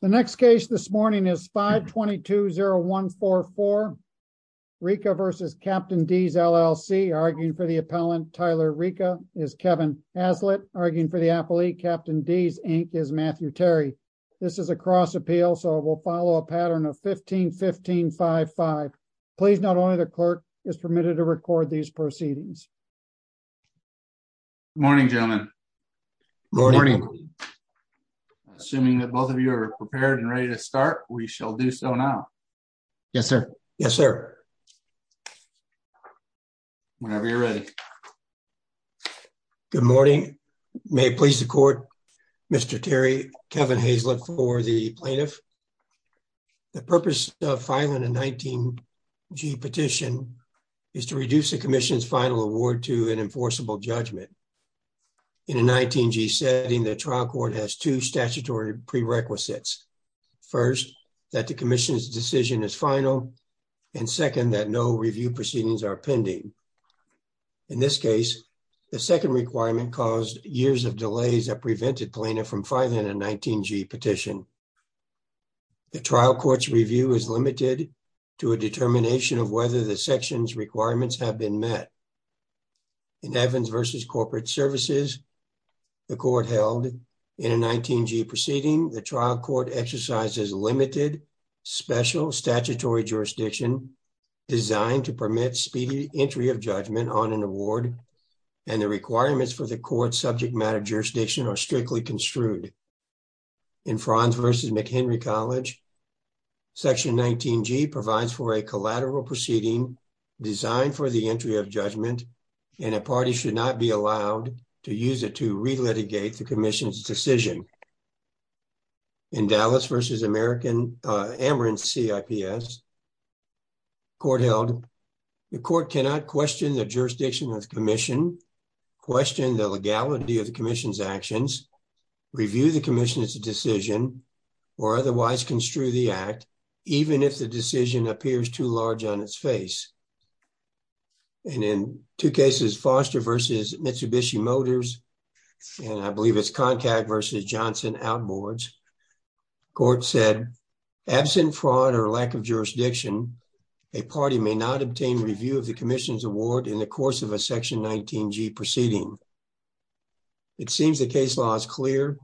The next case this morning is 522-0144, Reaka v. Captain D's, LLC. Arguing for the appellant, Tyler Reaka, is Kevin Haslett. Arguing for the appellee, Captain D's, Inc., is Matthew Terry. This is a cross appeal, so it will follow a pattern of 15-15-5-5. Please, not only the clerk, is permitted to record these proceedings. Morning, gentlemen. Morning. Assuming that both of you are prepared and ready to start, we shall do so now. Yes, sir. Yes, sir. Whenever you're ready. Good morning. May it please the court, Mr. Terry, Kevin Haslett for the plaintiff. The purpose of filing a 19-G petition is to reduce the commission's final award to an enforceable judgment. In a 19-G setting, the trial court has two statutory prerequisites. First, that the commission's decision is final, and second, that no review proceedings are pending. In this case, the second requirement caused years of delays that prevented plaintiff from filing a 19-G petition. The trial court's review is limited to a determination of whether the section's requirements have been met. In Evans v. Corporate Services, the court held in a 19-G proceeding, the trial court exercises limited, special statutory jurisdiction designed to permit speedy entry of judgment on an award, and the requirements for the court's subject matter jurisdiction are strictly construed. In Franz v. McHenry College, section 19-G provides for a collateral proceeding designed for the entry of judgment, and a party should not be allowed to use it to re-litigate the commission's decision. In Dallas v. Amherst CIPS, court held the court cannot question the jurisdiction of the commission, question the legality of the commission's actions, review the commission's decision, or otherwise construe the act, even if the decision appears too large on its face. And in two cases, Foster v. Mitsubishi Motors, and I believe it's Koncad v. Johnson Outboards, court said, absent fraud or lack of jurisdiction, a party may not obtain review of the commission's award in the course of a section 19-G proceeding. It seems the case law is clear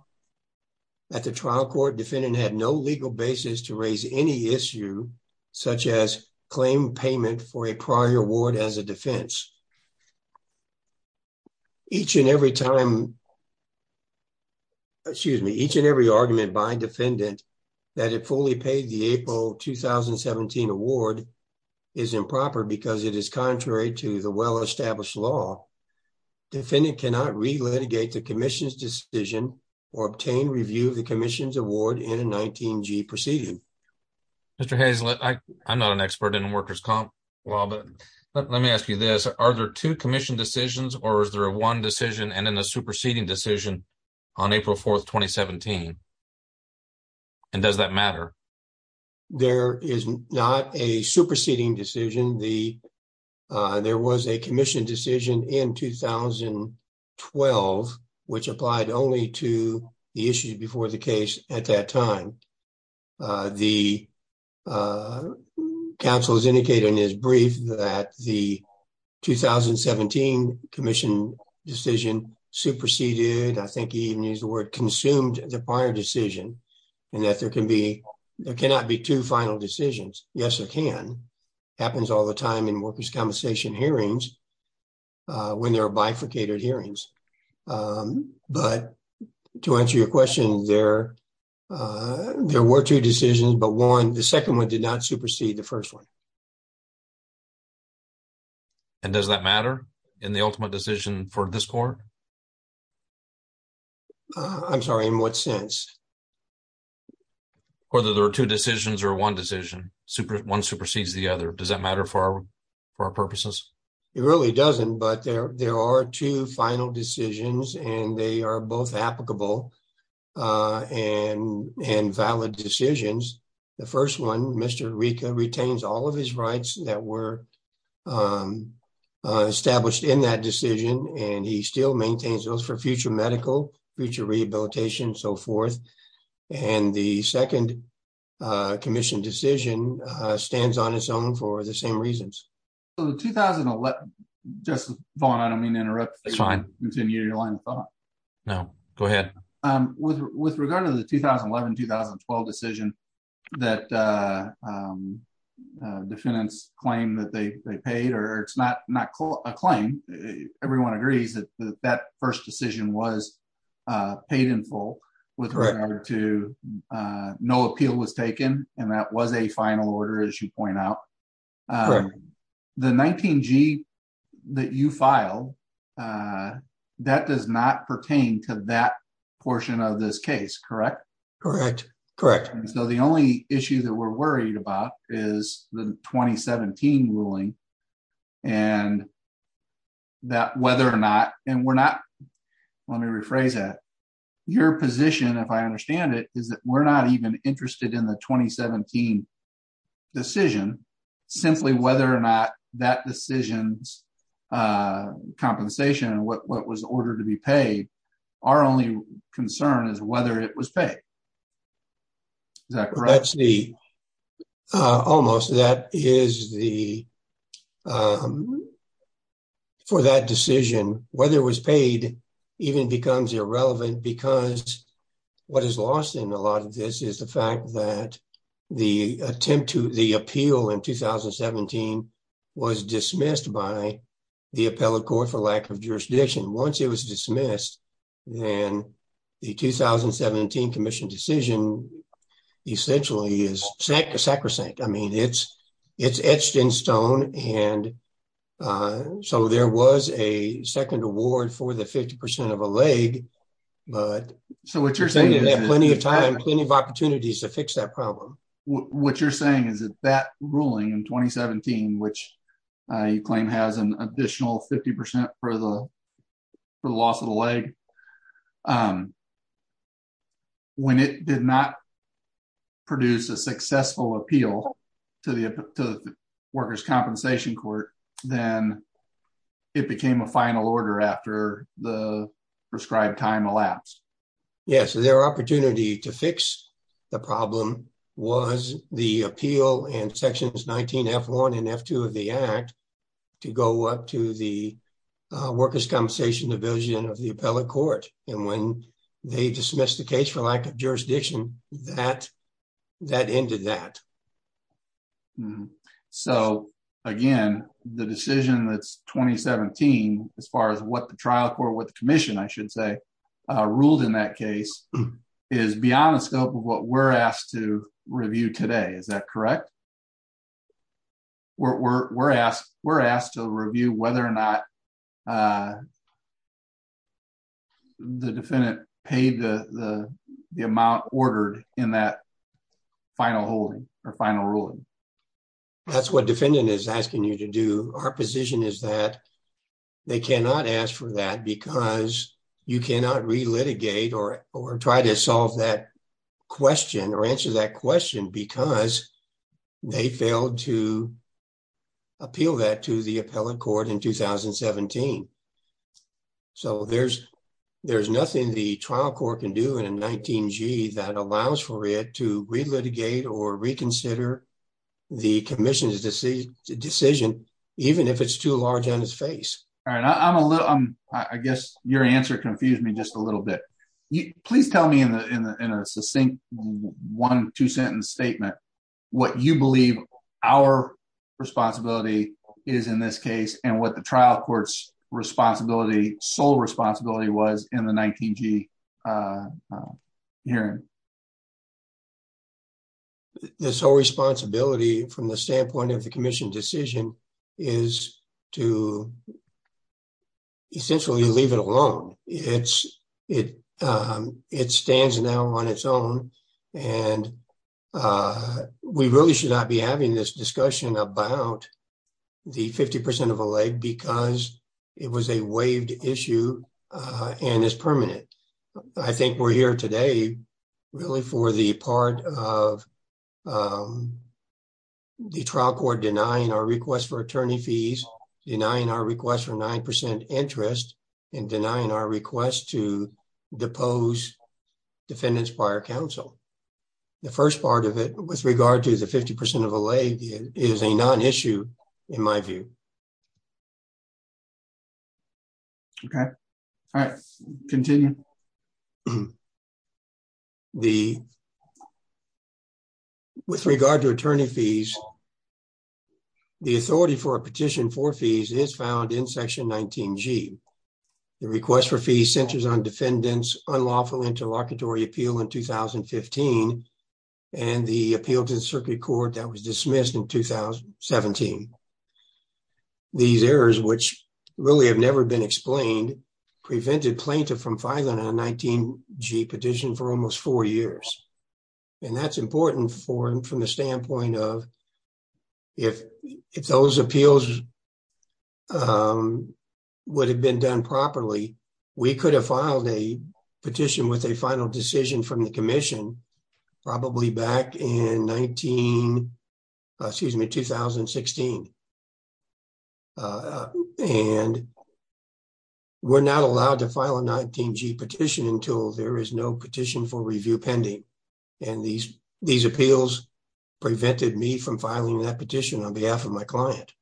that the trial court defendant had no legal basis to raise any issue such as claim payment for a prior award as a defense. Each and every time, excuse me, each and every argument by defendant that it fully paid the April 2017 award is improper because it is contrary to the well-established law. Defendant cannot re-litigate the commission's decision or obtain review of the commission's award in a 19-G proceeding. Mr. Hazlett, I'm not an expert in workers' comp law, but let me ask you this. Are there two commission decisions or is there a one decision and then a superseding decision on April 4th, 2017? And does that matter? There is not a superseding decision. There was a commission decision in 2012, which applied only to the issue before the case at that time. The counsel has indicated in his brief that the 2017 commission decision superseded, I think he even used the word consumed the prior decision and that there cannot be two final decisions. Yes, there can. Happens all the time in workers' compensation hearings when there are bifurcated hearings. But to answer your question, there were two decisions, but one, the second one did not supersede the first one. And does that matter in the ultimate decision for this court? I'm sorry, in what sense? Whether there are two decisions or one decision, one supersedes the other. Does that matter for our purposes? It really doesn't, but there are two final decisions and they are both applicable and valid decisions. The first one, Mr. Rica retains all of his rights that were established in that decision. And he still maintains those for future medical, future rehabilitation, so forth. And the second commission decision stands on its own for the same reasons. So the 2011, just Vaughn, I don't mean to interrupt. It's fine. Continue your line of thought. No, go ahead. With regard to the 2011, 2012 decision that defendants claim that they paid, or it's not a claim, everyone agrees that that first decision was paid in full with regard to no appeal was taken. And that was a final order, as you point out. Correct. The 19G that you filed, that does not pertain to that portion of this case, correct? Correct, correct. So the only issue that we're worried about is the 2017 ruling and that whether or not, and we're not, let me rephrase that. Your position, if I understand it, is that we're not even interested in the 2017 decision simply whether or not that decision's compensation and what was ordered to be paid. Our only concern is whether it was paid. Is that correct? That's the, almost, that is the, for that decision, whether it was paid even becomes irrelevant because what is lost in a lot of this is the fact that the attempt to the appeal in 2017 was dismissed by the appellate court for lack of jurisdiction. Once it was dismissed, then the 2017 commission decision essentially is sacrosanct. I mean, it's etched in stone. And so there was a second award for the 50% of a leg, but we had plenty of time, plenty of opportunities to fix that problem. What you're saying is that that ruling in 2017, which you claim has an additional 50% for the loss of the leg, when it did not produce a successful appeal to the workers' compensation court, then it became a final order after the prescribed time elapsed. Yeah, so there were opportunity to fix the problem was the appeal in sections 19 F1 and F2 of the act to go up to the workers' compensation division of the appellate court. And when they dismissed the case for lack of jurisdiction, that ended that. So again, the decision that's 2017, as far as what the trial court, what the commission, I should say, ruled in that case is beyond the scope of what we're asked to review today. Is that correct? We're asked to review whether or not the defendant paid the amount ordered in that final holding or final ruling. That's what defendant is asking you to do. Our position is that they cannot ask for that because you cannot re-litigate or try to solve that question or answer that question because they failed to appeal that to the appellate court in 2017. So there's nothing the trial court can do in a 19-G that allows for it to re-litigate or reconsider the commission's decision, even if it's too large on its face. All right, I guess your answer confused me just a little bit. Please tell me in a succinct one, two sentence statement, what you believe our responsibility is in this case and what the trial court's responsibility, sole responsibility was in the 19-G hearing. The sole responsibility from the standpoint of the commission decision is to essentially leave it alone. It stands now on its own and we really should not be having this discussion about the 50% of a leg because it was a waived issue and is permanent. I think we're here today really for the part of the trial court denying our request for attorney fees, denying our request for 9% interest and denying our request to depose defendants prior counsel. The first part of it with regard to the 50% of a leg is a non-issue in my view. Okay, all right, continue. The, with regard to attorney fees, the authority for a petition for fees is found in section 19-G. The request for fees centers on defendants unlawful interlocutory appeal in 2015 and the appeal to the circuit court that was dismissed in 2017. These errors, which really have never been explained, prevented plaintiff from filing a 19-G petition for almost four years. And that's important for him from the standpoint of if those appeals would have been done properly, we could have filed a petition with a final decision from the commission probably back in 19, excuse me, 2016. And we're not allowed to file a 19-G petition until there is no petition for review pending. And these appeals prevented me from filing that petition on behalf of my client.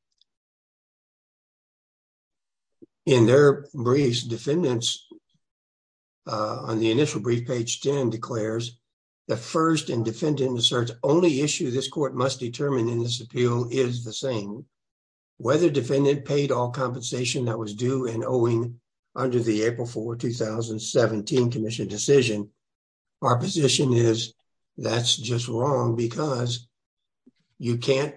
In their briefs, defendants on the initial brief page 10 declares the first and defendant asserts only issue this court must determine in this appeal is the same. Whether defendant paid all compensation that was due and owing under the April 4, 2017 commission decision, our position is that's just wrong because you can't,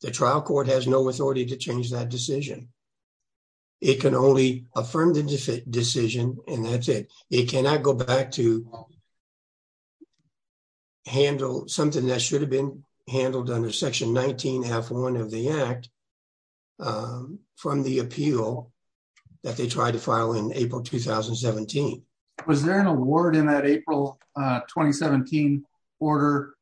the trial court has no authority to change that decision. It can only affirm the decision and that's it. It cannot go back to handle something that should have been handled under section 19, half one of the act from the appeal that they tried to file in April, 2017. Was there an award in that April, 2017 order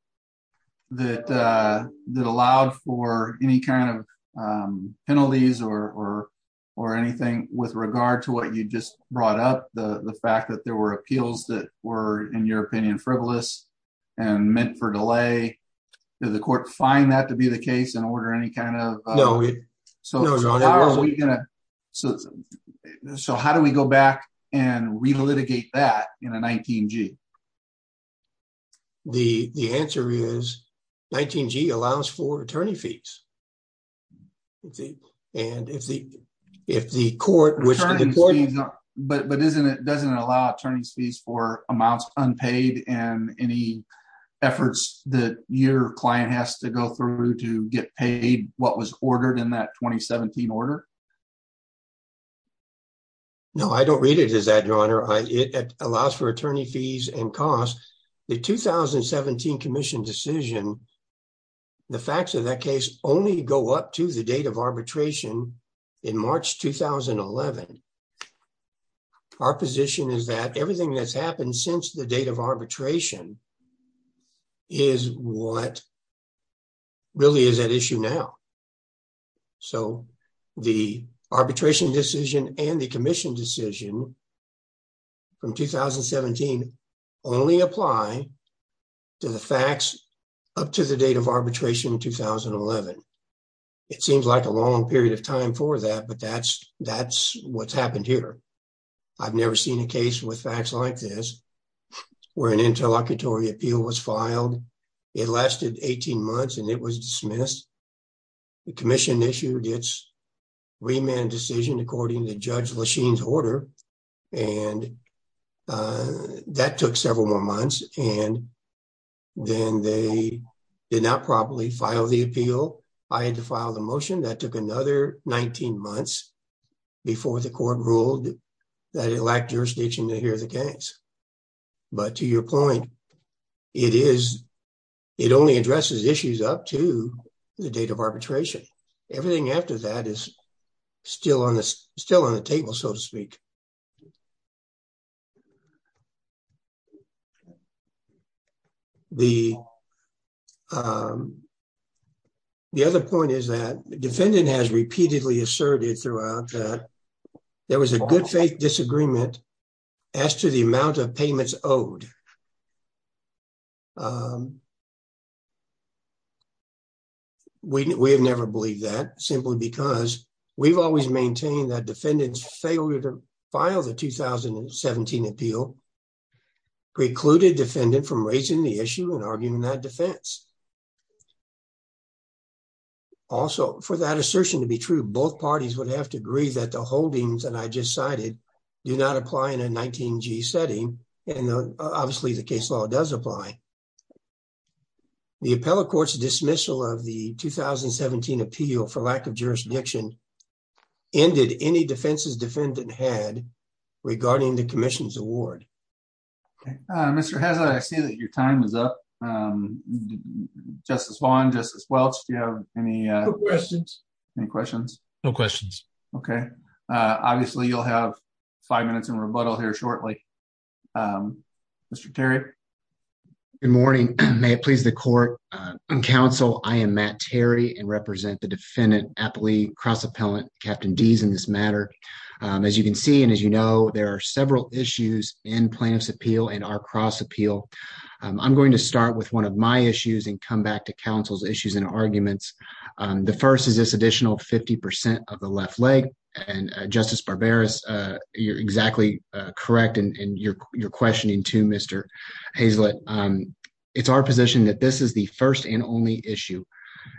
that allowed for any kind of penalties or anything with regard to what you just brought up? The fact that there were appeals that were in your opinion frivolous and meant for delay, did the court find that to be the case and order any kind of- No, no, your honor. So how do we go back and re-litigate that in a 19G? The answer is 19G allows for attorney fees. And if the court- But doesn't it allow attorney's fees for amounts unpaid and any efforts that your client has to go through to get paid what was ordered in that 2017 order? No, I don't read it as that, your honor. It allows for attorney fees and costs. The 2017 commission decision, the facts of that case only go up to the date of arbitration in March, 2011. Our position is that everything that's happened since the date of arbitration is what really is at issue now. So the arbitration decision and the commission decision from 2017 only apply to the facts up to the date of arbitration in 2011. It seems like a long period of time for that, but that's what's happened here. I've never seen a case with facts like this where an interlocutory appeal was filed. It lasted 18 months and it was dismissed. The commission issued its remand decision according to Judge Lachine's order. And that took several more months. And then they did not properly file the appeal. I had to file the motion. That took another 19 months before the court ruled that it lacked jurisdiction to hear the case. But to your point, it only addresses issues up to the date of arbitration. Everything after that is still on the table, so to speak. The other point is that the defendant has repeatedly asserted throughout that there was a good faith disagreement as to the amount of payments owed. We have never believed that simply because we've always maintained that defendants failed to file the 2017 appeal precluded defendant from raising the issue and arguing that defense. Also for that assertion to be true, both parties would have to agree that the holdings that I just cited do not apply in a 19G setting. And obviously the case law does apply. The appellate court's dismissal of the 2017 appeal for lack of jurisdiction ended any defenses defendant had regarding the commission's award. Mr. Hazlett, I see that your time is up. Justice Vaughn, Justice Welch, do you have any- No questions. Any questions? No questions. Okay. Obviously you'll have five minutes in rebuttal here shortly. Mr. Terry. Good morning. May it please the court and counsel, I am Matt Terry and represent the defendant appellee cross-appellant Captain Deas in this matter. As you can see, and as you know, there are several issues in plaintiff's appeal and our cross appeal. I'm going to start with one of my issues and come back to counsel's issues and arguments. The first is this additional 50% of the left leg and Justice Barbera, you're exactly correct in your questioning too, Mr. Hazlett. It's our position that this is the first and only issue.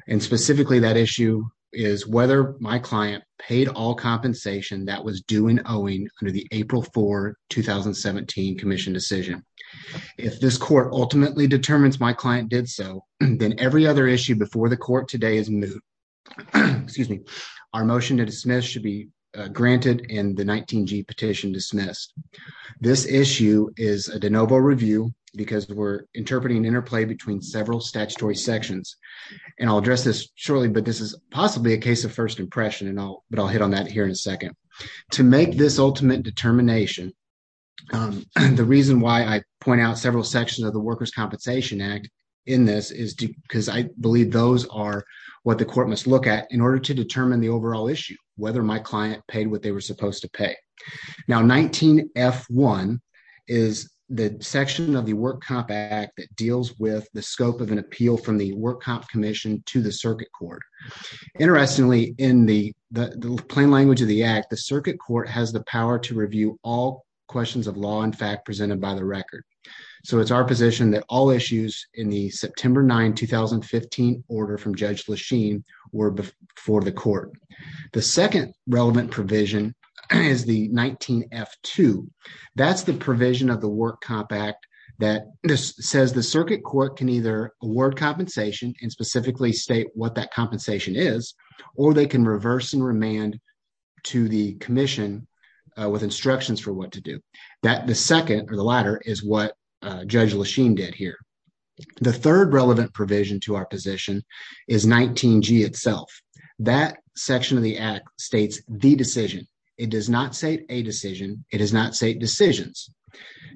And specifically that issue is whether my client paid all compensation that was due and owing under the April 4, 2017 commission decision. If this court ultimately determines my client did so, then every other issue before the court today is moot. Excuse me. Our motion to dismiss should be granted and the 19G petition dismissed. This issue is a de novo review because we're interpreting an interplay between several statutory sections. And I'll address this shortly, but this is possibly a case of first impression but I'll hit on that here in a second. To make this ultimate determination, the reason why I point out several sections of the Workers' Compensation Act in this is because I believe those are what the court must look at in order to determine the overall issue, whether my client paid what they were supposed to pay. Now, 19F1 is the section of the Work Comp Act that deals with the scope of an appeal from the Work Comp Commission to the circuit court. Interestingly, in the plain language of the act, the circuit court has the power to review all questions of law and fact presented by the record. So it's our position that all issues were before the court. The second relevant provision is the 19F2. That's the provision of the Work Comp Act that says the circuit court can either award compensation and specifically state what that compensation is, or they can reverse and remand to the commission with instructions for what to do. That the second or the latter is what Judge Lechine did here. The third relevant provision to our position is 19G itself. That section of the act states the decision. It does not say a decision. It does not say decisions.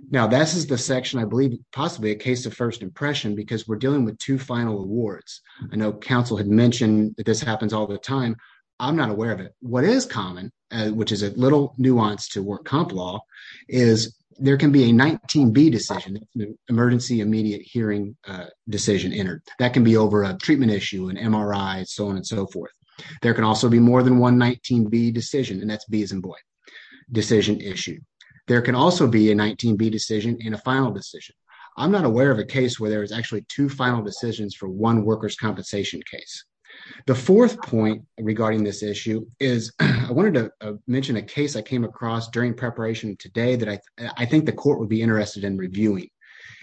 Now, this is the section I believe possibly a case of first impression because we're dealing with two final awards. I know counsel had mentioned that this happens all the time. I'm not aware of it. What is common, which is a little nuance to work comp law, is there can be a 19B decision, emergency immediate hearing decision entered. That can be over a treatment issue, an MRI, so on and so forth. There can also be more than one 19B decision, and that's Beeson Boyd decision issue. There can also be a 19B decision and a final decision. I'm not aware of a case where there was actually two final decisions for one workers' compensation case. The fourth point regarding this issue is, I wanted to mention a case I came across during preparation today that I think the court would be interested in reviewing.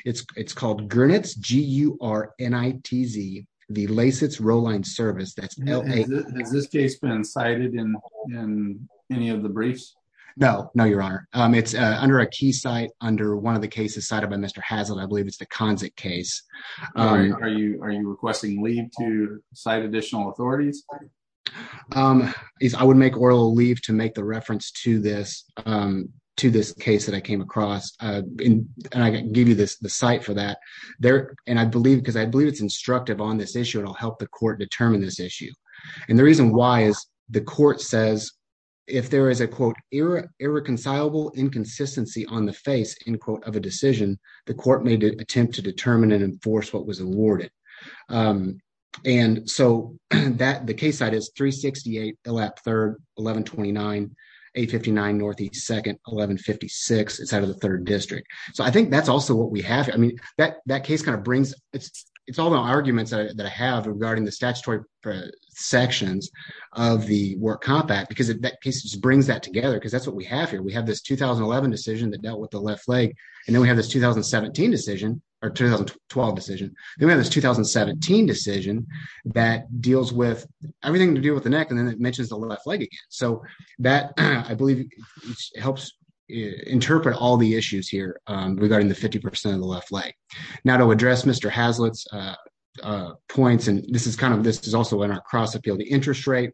It's called Gurnitz, G-U-R-N-I-T-Z, the LASITS Rowline Service, that's L-A- Has this case been cited in any of the briefs? No, no, your honor. It's under a key site under one of the cases cited by Mr. Hazlitt. I believe it's the Kanzik case. Are you requesting leave to cite additional authorities? I would make oral leave to make the reference to this case that I came across, and I can give you the site for that. And I believe, because I believe it's instructive on this issue, and I'll help the court determine this issue. And the reason why is the court says, if there is a quote, irreconcilable inconsistency on the face, end quote, of a decision, the court may attempt to determine and enforce what was awarded. And so the case site is 368 Elap 3rd, 1129, 859 North East 2nd, 1156, it's out of the third district. So I think that's also what we have. I mean, that case kind of brings, it's all the arguments that I have regarding the statutory sections of the War Compact, because that case just brings that together, because that's what we have here. We have this 2011 decision that dealt with the left leg, and then we have this 2017 decision, or 2012 decision. Then we have this 2017 decision that deals with everything to do with the neck, and then it mentions the left leg again. So that, I believe, helps interpret all the issues here regarding the 50% of the left leg. Now to address Mr. Haslitt's points, and this is kind of, this is also in our cross-appeal, the interest rate.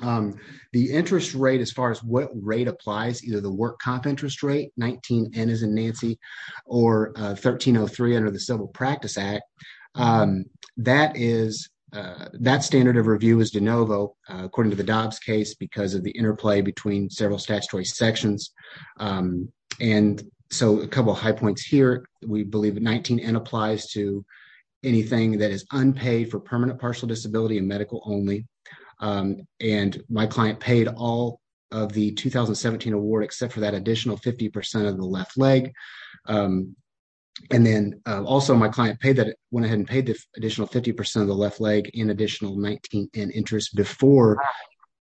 The interest rate, as far as what rate applies, either the War Comp interest rate, 19N as in Nancy, or 1303 under the Civil Practice Act, that is, that standard of review is de novo, according to the Dobbs case, because of the interplay between several statutory sections. And so a couple of high points here. We believe 19N applies to anything that is unpaid for permanent partial disability and medical only. And my client paid all of the 2017 award, except for that additional 50% of the left leg. And then also my client paid that, went ahead and paid the additional 50% of the left leg in additional 19N interest before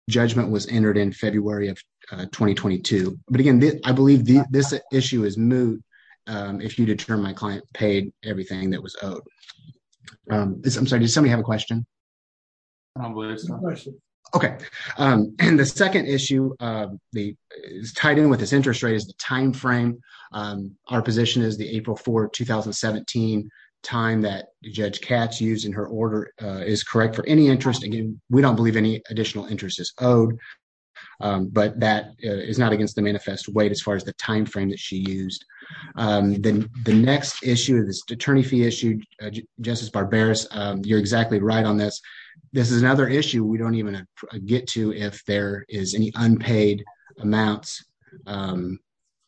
judgment was entered in February of 2022. But again, I believe this issue is moot if you determine my client paid everything that was owed. I'm sorry, does somebody have a question? I don't believe there's a question. Okay. And the second issue is tied in with this interest rate is the timeframe. Our position is the April 4, 2017 time that Judge Katz used in her order is correct for any interest. Again, we don't believe any additional interest is owed, but that is not against the manifest weight as far as the timeframe that she used. Then the next issue, this attorney fee issue, Justice Barberis, you're exactly right on this. This is another issue we don't even get to if there is any unpaid amounts under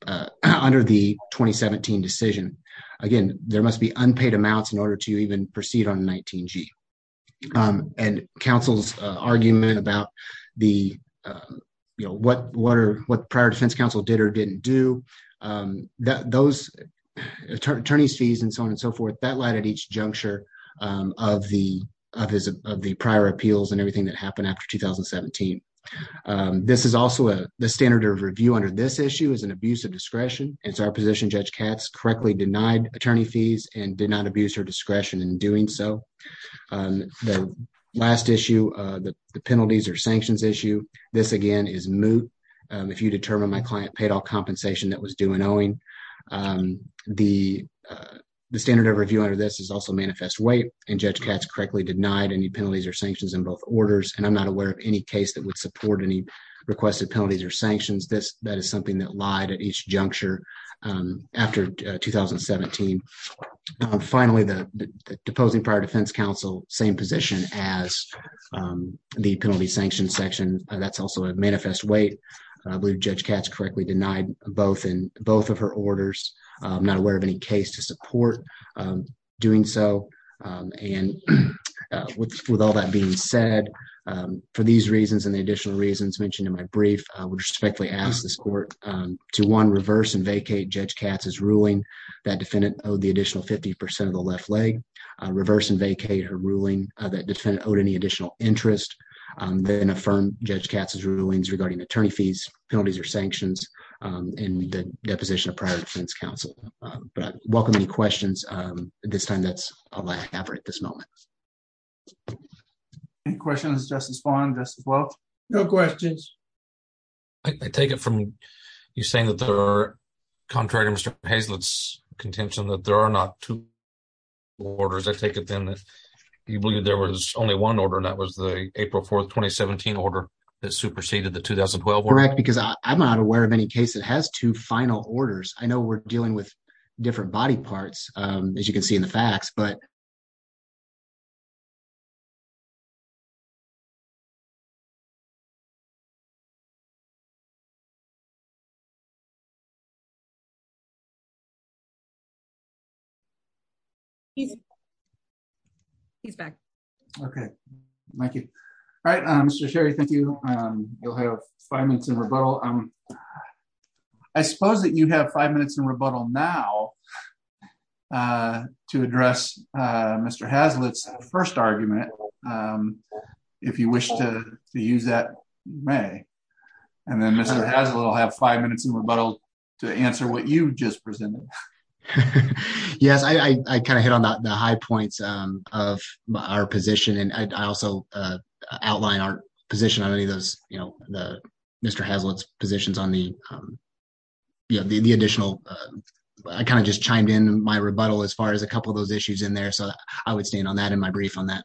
the 2017 decision. Again, there must be unpaid amounts in order to even proceed on 19G. And counsel's argument about what prior defense counsel did or didn't do, those attorney's fees and so on and so forth, that lied at each juncture of the prior appeals and everything that happened after 2017. This is also the standard of review under this issue is an abuse of discretion. And so our position, Judge Katz correctly denied attorney fees and did not abuse her discretion in doing so. The last issue, the penalties or sanctions issue, this again is moot. If you determine my client paid off compensation that was due and owing. The standard of review under this is also manifest weight and Judge Katz correctly denied any penalties or sanctions in both orders. And I'm not aware of any case that would support any requested penalties or sanctions. That is something that lied at each juncture after 2017. And finally, the deposing prior defense counsel, same position as the penalty sanction section, that's also a manifest weight. I believe Judge Katz correctly denied both of her orders. I'm not aware of any case to support doing so. And with all that being said, for these reasons and the additional reasons mentioned in my brief, I would respectfully ask this court to one, reverse and vacate Judge Katz's ruling that defendant owed the additional 50% of the left leg, reverse and vacate her ruling that defendant owed any additional interest, then affirm Judge Katz's rulings regarding attorney fees, penalties or sanctions, and the deposition of prior defense counsel. But I welcome any questions. This time that's all I have at this moment. Any questions of Justice Vaughn, Justice Weld? No questions. I take it from you saying that there are, contrary to Mr. Hazlitt's contention, that there are not two orders. I take it then that you believe there was only one order and that was the April 4th, 2017 order that superseded the 2012 one? Correct, because I'm not aware of any case that has two final orders. I know we're dealing with different body parts, as you can see in the facts, but. He's back. Okay, thank you. All right, Mr. Sherry, thank you. You'll have five minutes in rebuttal. I suppose that you have five minutes in rebuttal now to address Mr. Hazlitt's first argument, if you wish to use that, you may. And then Mr. Hazlitt will have five minutes in rebuttal to answer what you just presented. Yes, I kind of hit on the high points of our position and I also outline our position on any of those, you know, Mr. Hazlitt's positions on the additional, I kind of just chimed in my rebuttal as far as a couple of those issues in there. So I would stand on that in my brief on that.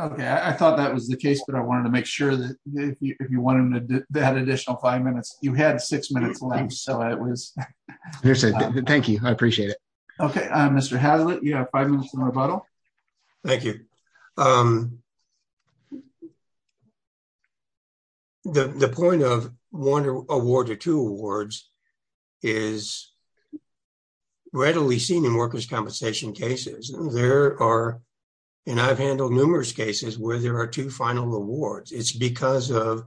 Okay, I thought that was the case, but I wanted to make sure that if you wanted that additional five minutes, you had six minutes left, so it was. Thank you, I appreciate it. Okay, Mr. Hazlitt, you have five minutes in rebuttal. Thank you. The point of one award or two awards is readily seen in workers' compensation cases. There are, and I've handled numerous cases where there are two final awards. It's because of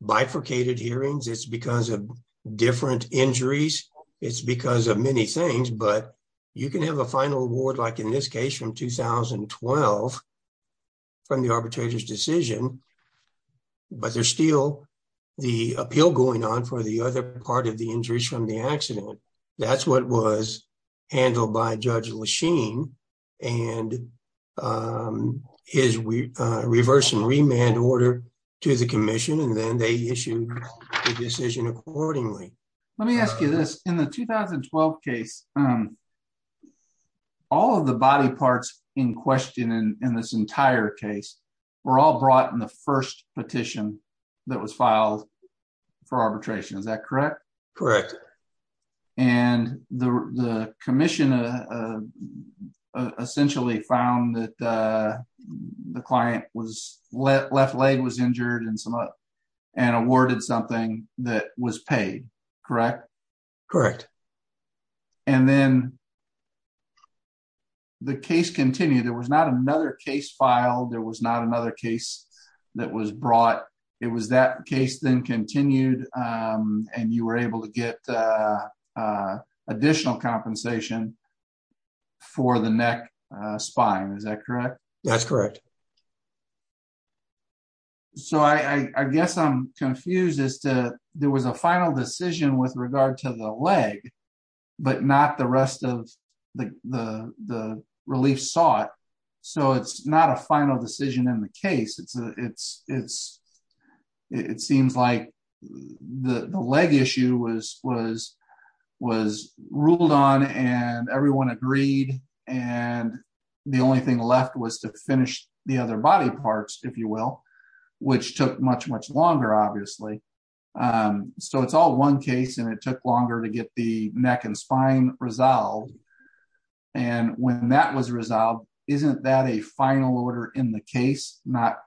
bifurcated hearings, it's because of different injuries, it's because of many things, but you can have a final award, like in this case from 2012, from the arbitrator's decision, but there's still the appeal going on for the other part of the injuries from the accident. That's what was handled by Judge Lesheen and his reverse and remand order to the commission. And then they issued the decision accordingly. Let me ask you this, in the 2012 case, all of the body parts in question in this entire case were all brought in the first petition that was filed for arbitration, is that correct? Correct. And the commission essentially found that the client's left leg was injured and awarded something that was paid, correct? Correct. And then the case continued. There was not another case filed. There was not another case that was brought. It was that case then continued and you were able to get additional compensation for the neck spine, is that correct? That's correct. So I guess I'm confused as to, there was a final decision with regard to the leg, but not the rest of the relief sought. So it's not a final decision in the case. It seems like the leg issue was ruled on and everyone agreed. And the only thing left was to finish the case with the other body parts, if you will, which took much, much longer, obviously. So it's all one case and it took longer to get the neck and spine resolved. And when that was resolved, isn't that a final order in the case? Not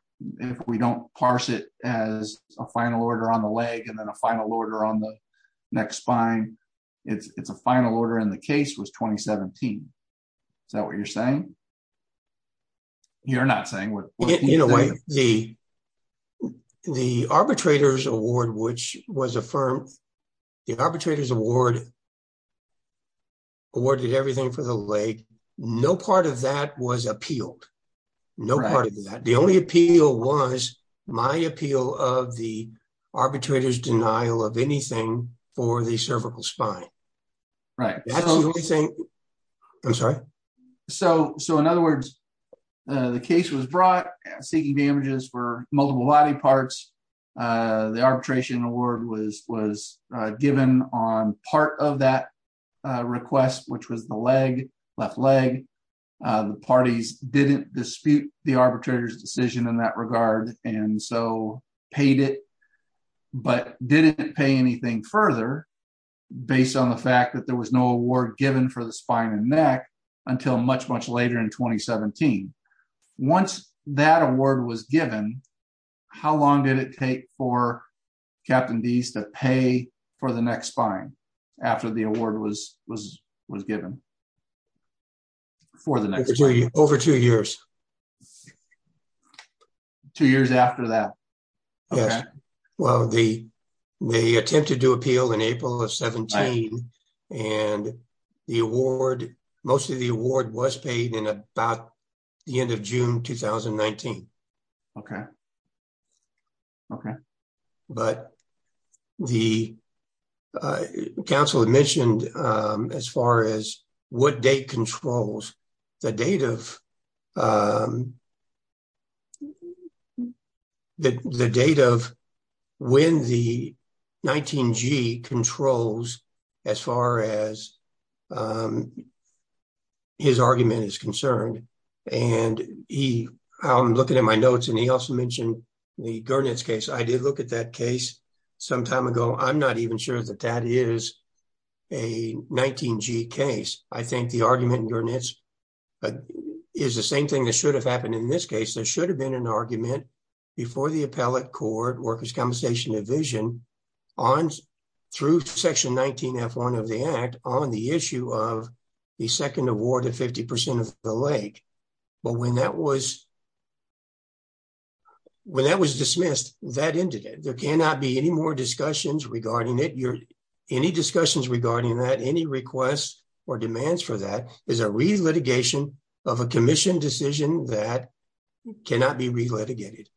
if we don't parse it as a final order on the leg and then a final order on the neck spine, it's a final order in the case was 2017. Is that what you're saying? You're not saying what- In a way, the arbitrator's award, which was affirmed, the arbitrator's award awarded everything for the leg, no part of that was appealed, no part of that. The only appeal was my appeal of the arbitrator's denial of anything for the cervical spine. Right. That's the only thing, I'm sorry? So in other words, the case was brought seeking damages for multiple body parts. The arbitration award was given on part of that request, which was the leg, left leg. The parties didn't dispute the arbitrator's decision in that regard. And so paid it, but didn't pay anything further based on the fact that there was no award given for the spine and neck until much, much later in 2017. Once that award was given, how long did it take for Captain Deese to pay for the neck spine after the award was given for the neck spine? Over two years. Two years after that? Yes. Well, they attempted to appeal in April of 17 and the award, most of the award was paid in about the end of June, 2019. Okay. Okay. But the council had mentioned as far as what date controls the date of when the 19G controls as far as his argument is concerned. And he, I'm looking at my notes and he also mentioned the Gurnett's case. I did look at that case sometime ago. I'm not even sure that that is a 19G case. I think the argument in Gurnett's is the same thing and it should have happened in this case. There should have been an argument before the appellate court, workers' compensation division through section 19F1 of the act on the issue of the second award of 50% of the leg. But when that was dismissed, that ended it. There cannot be any more discussions regarding it. Any discussions regarding that, any requests or demands for that is a re-litigation of a commission decision that cannot be re-litigated.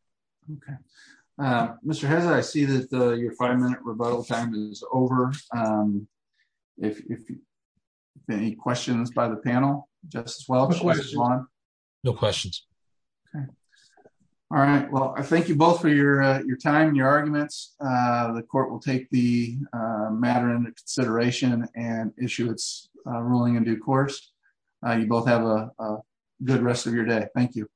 Okay. Mr. Hess, I see that your five minute rebuttal time is over. If there are any questions by the panel, Justice Welch, Justice Long? No questions. Okay. All right. Well, I thank you both for your time and your arguments. The court will take the matter into consideration and issue its ruling in due course. You both have a good rest of your day. Thank you.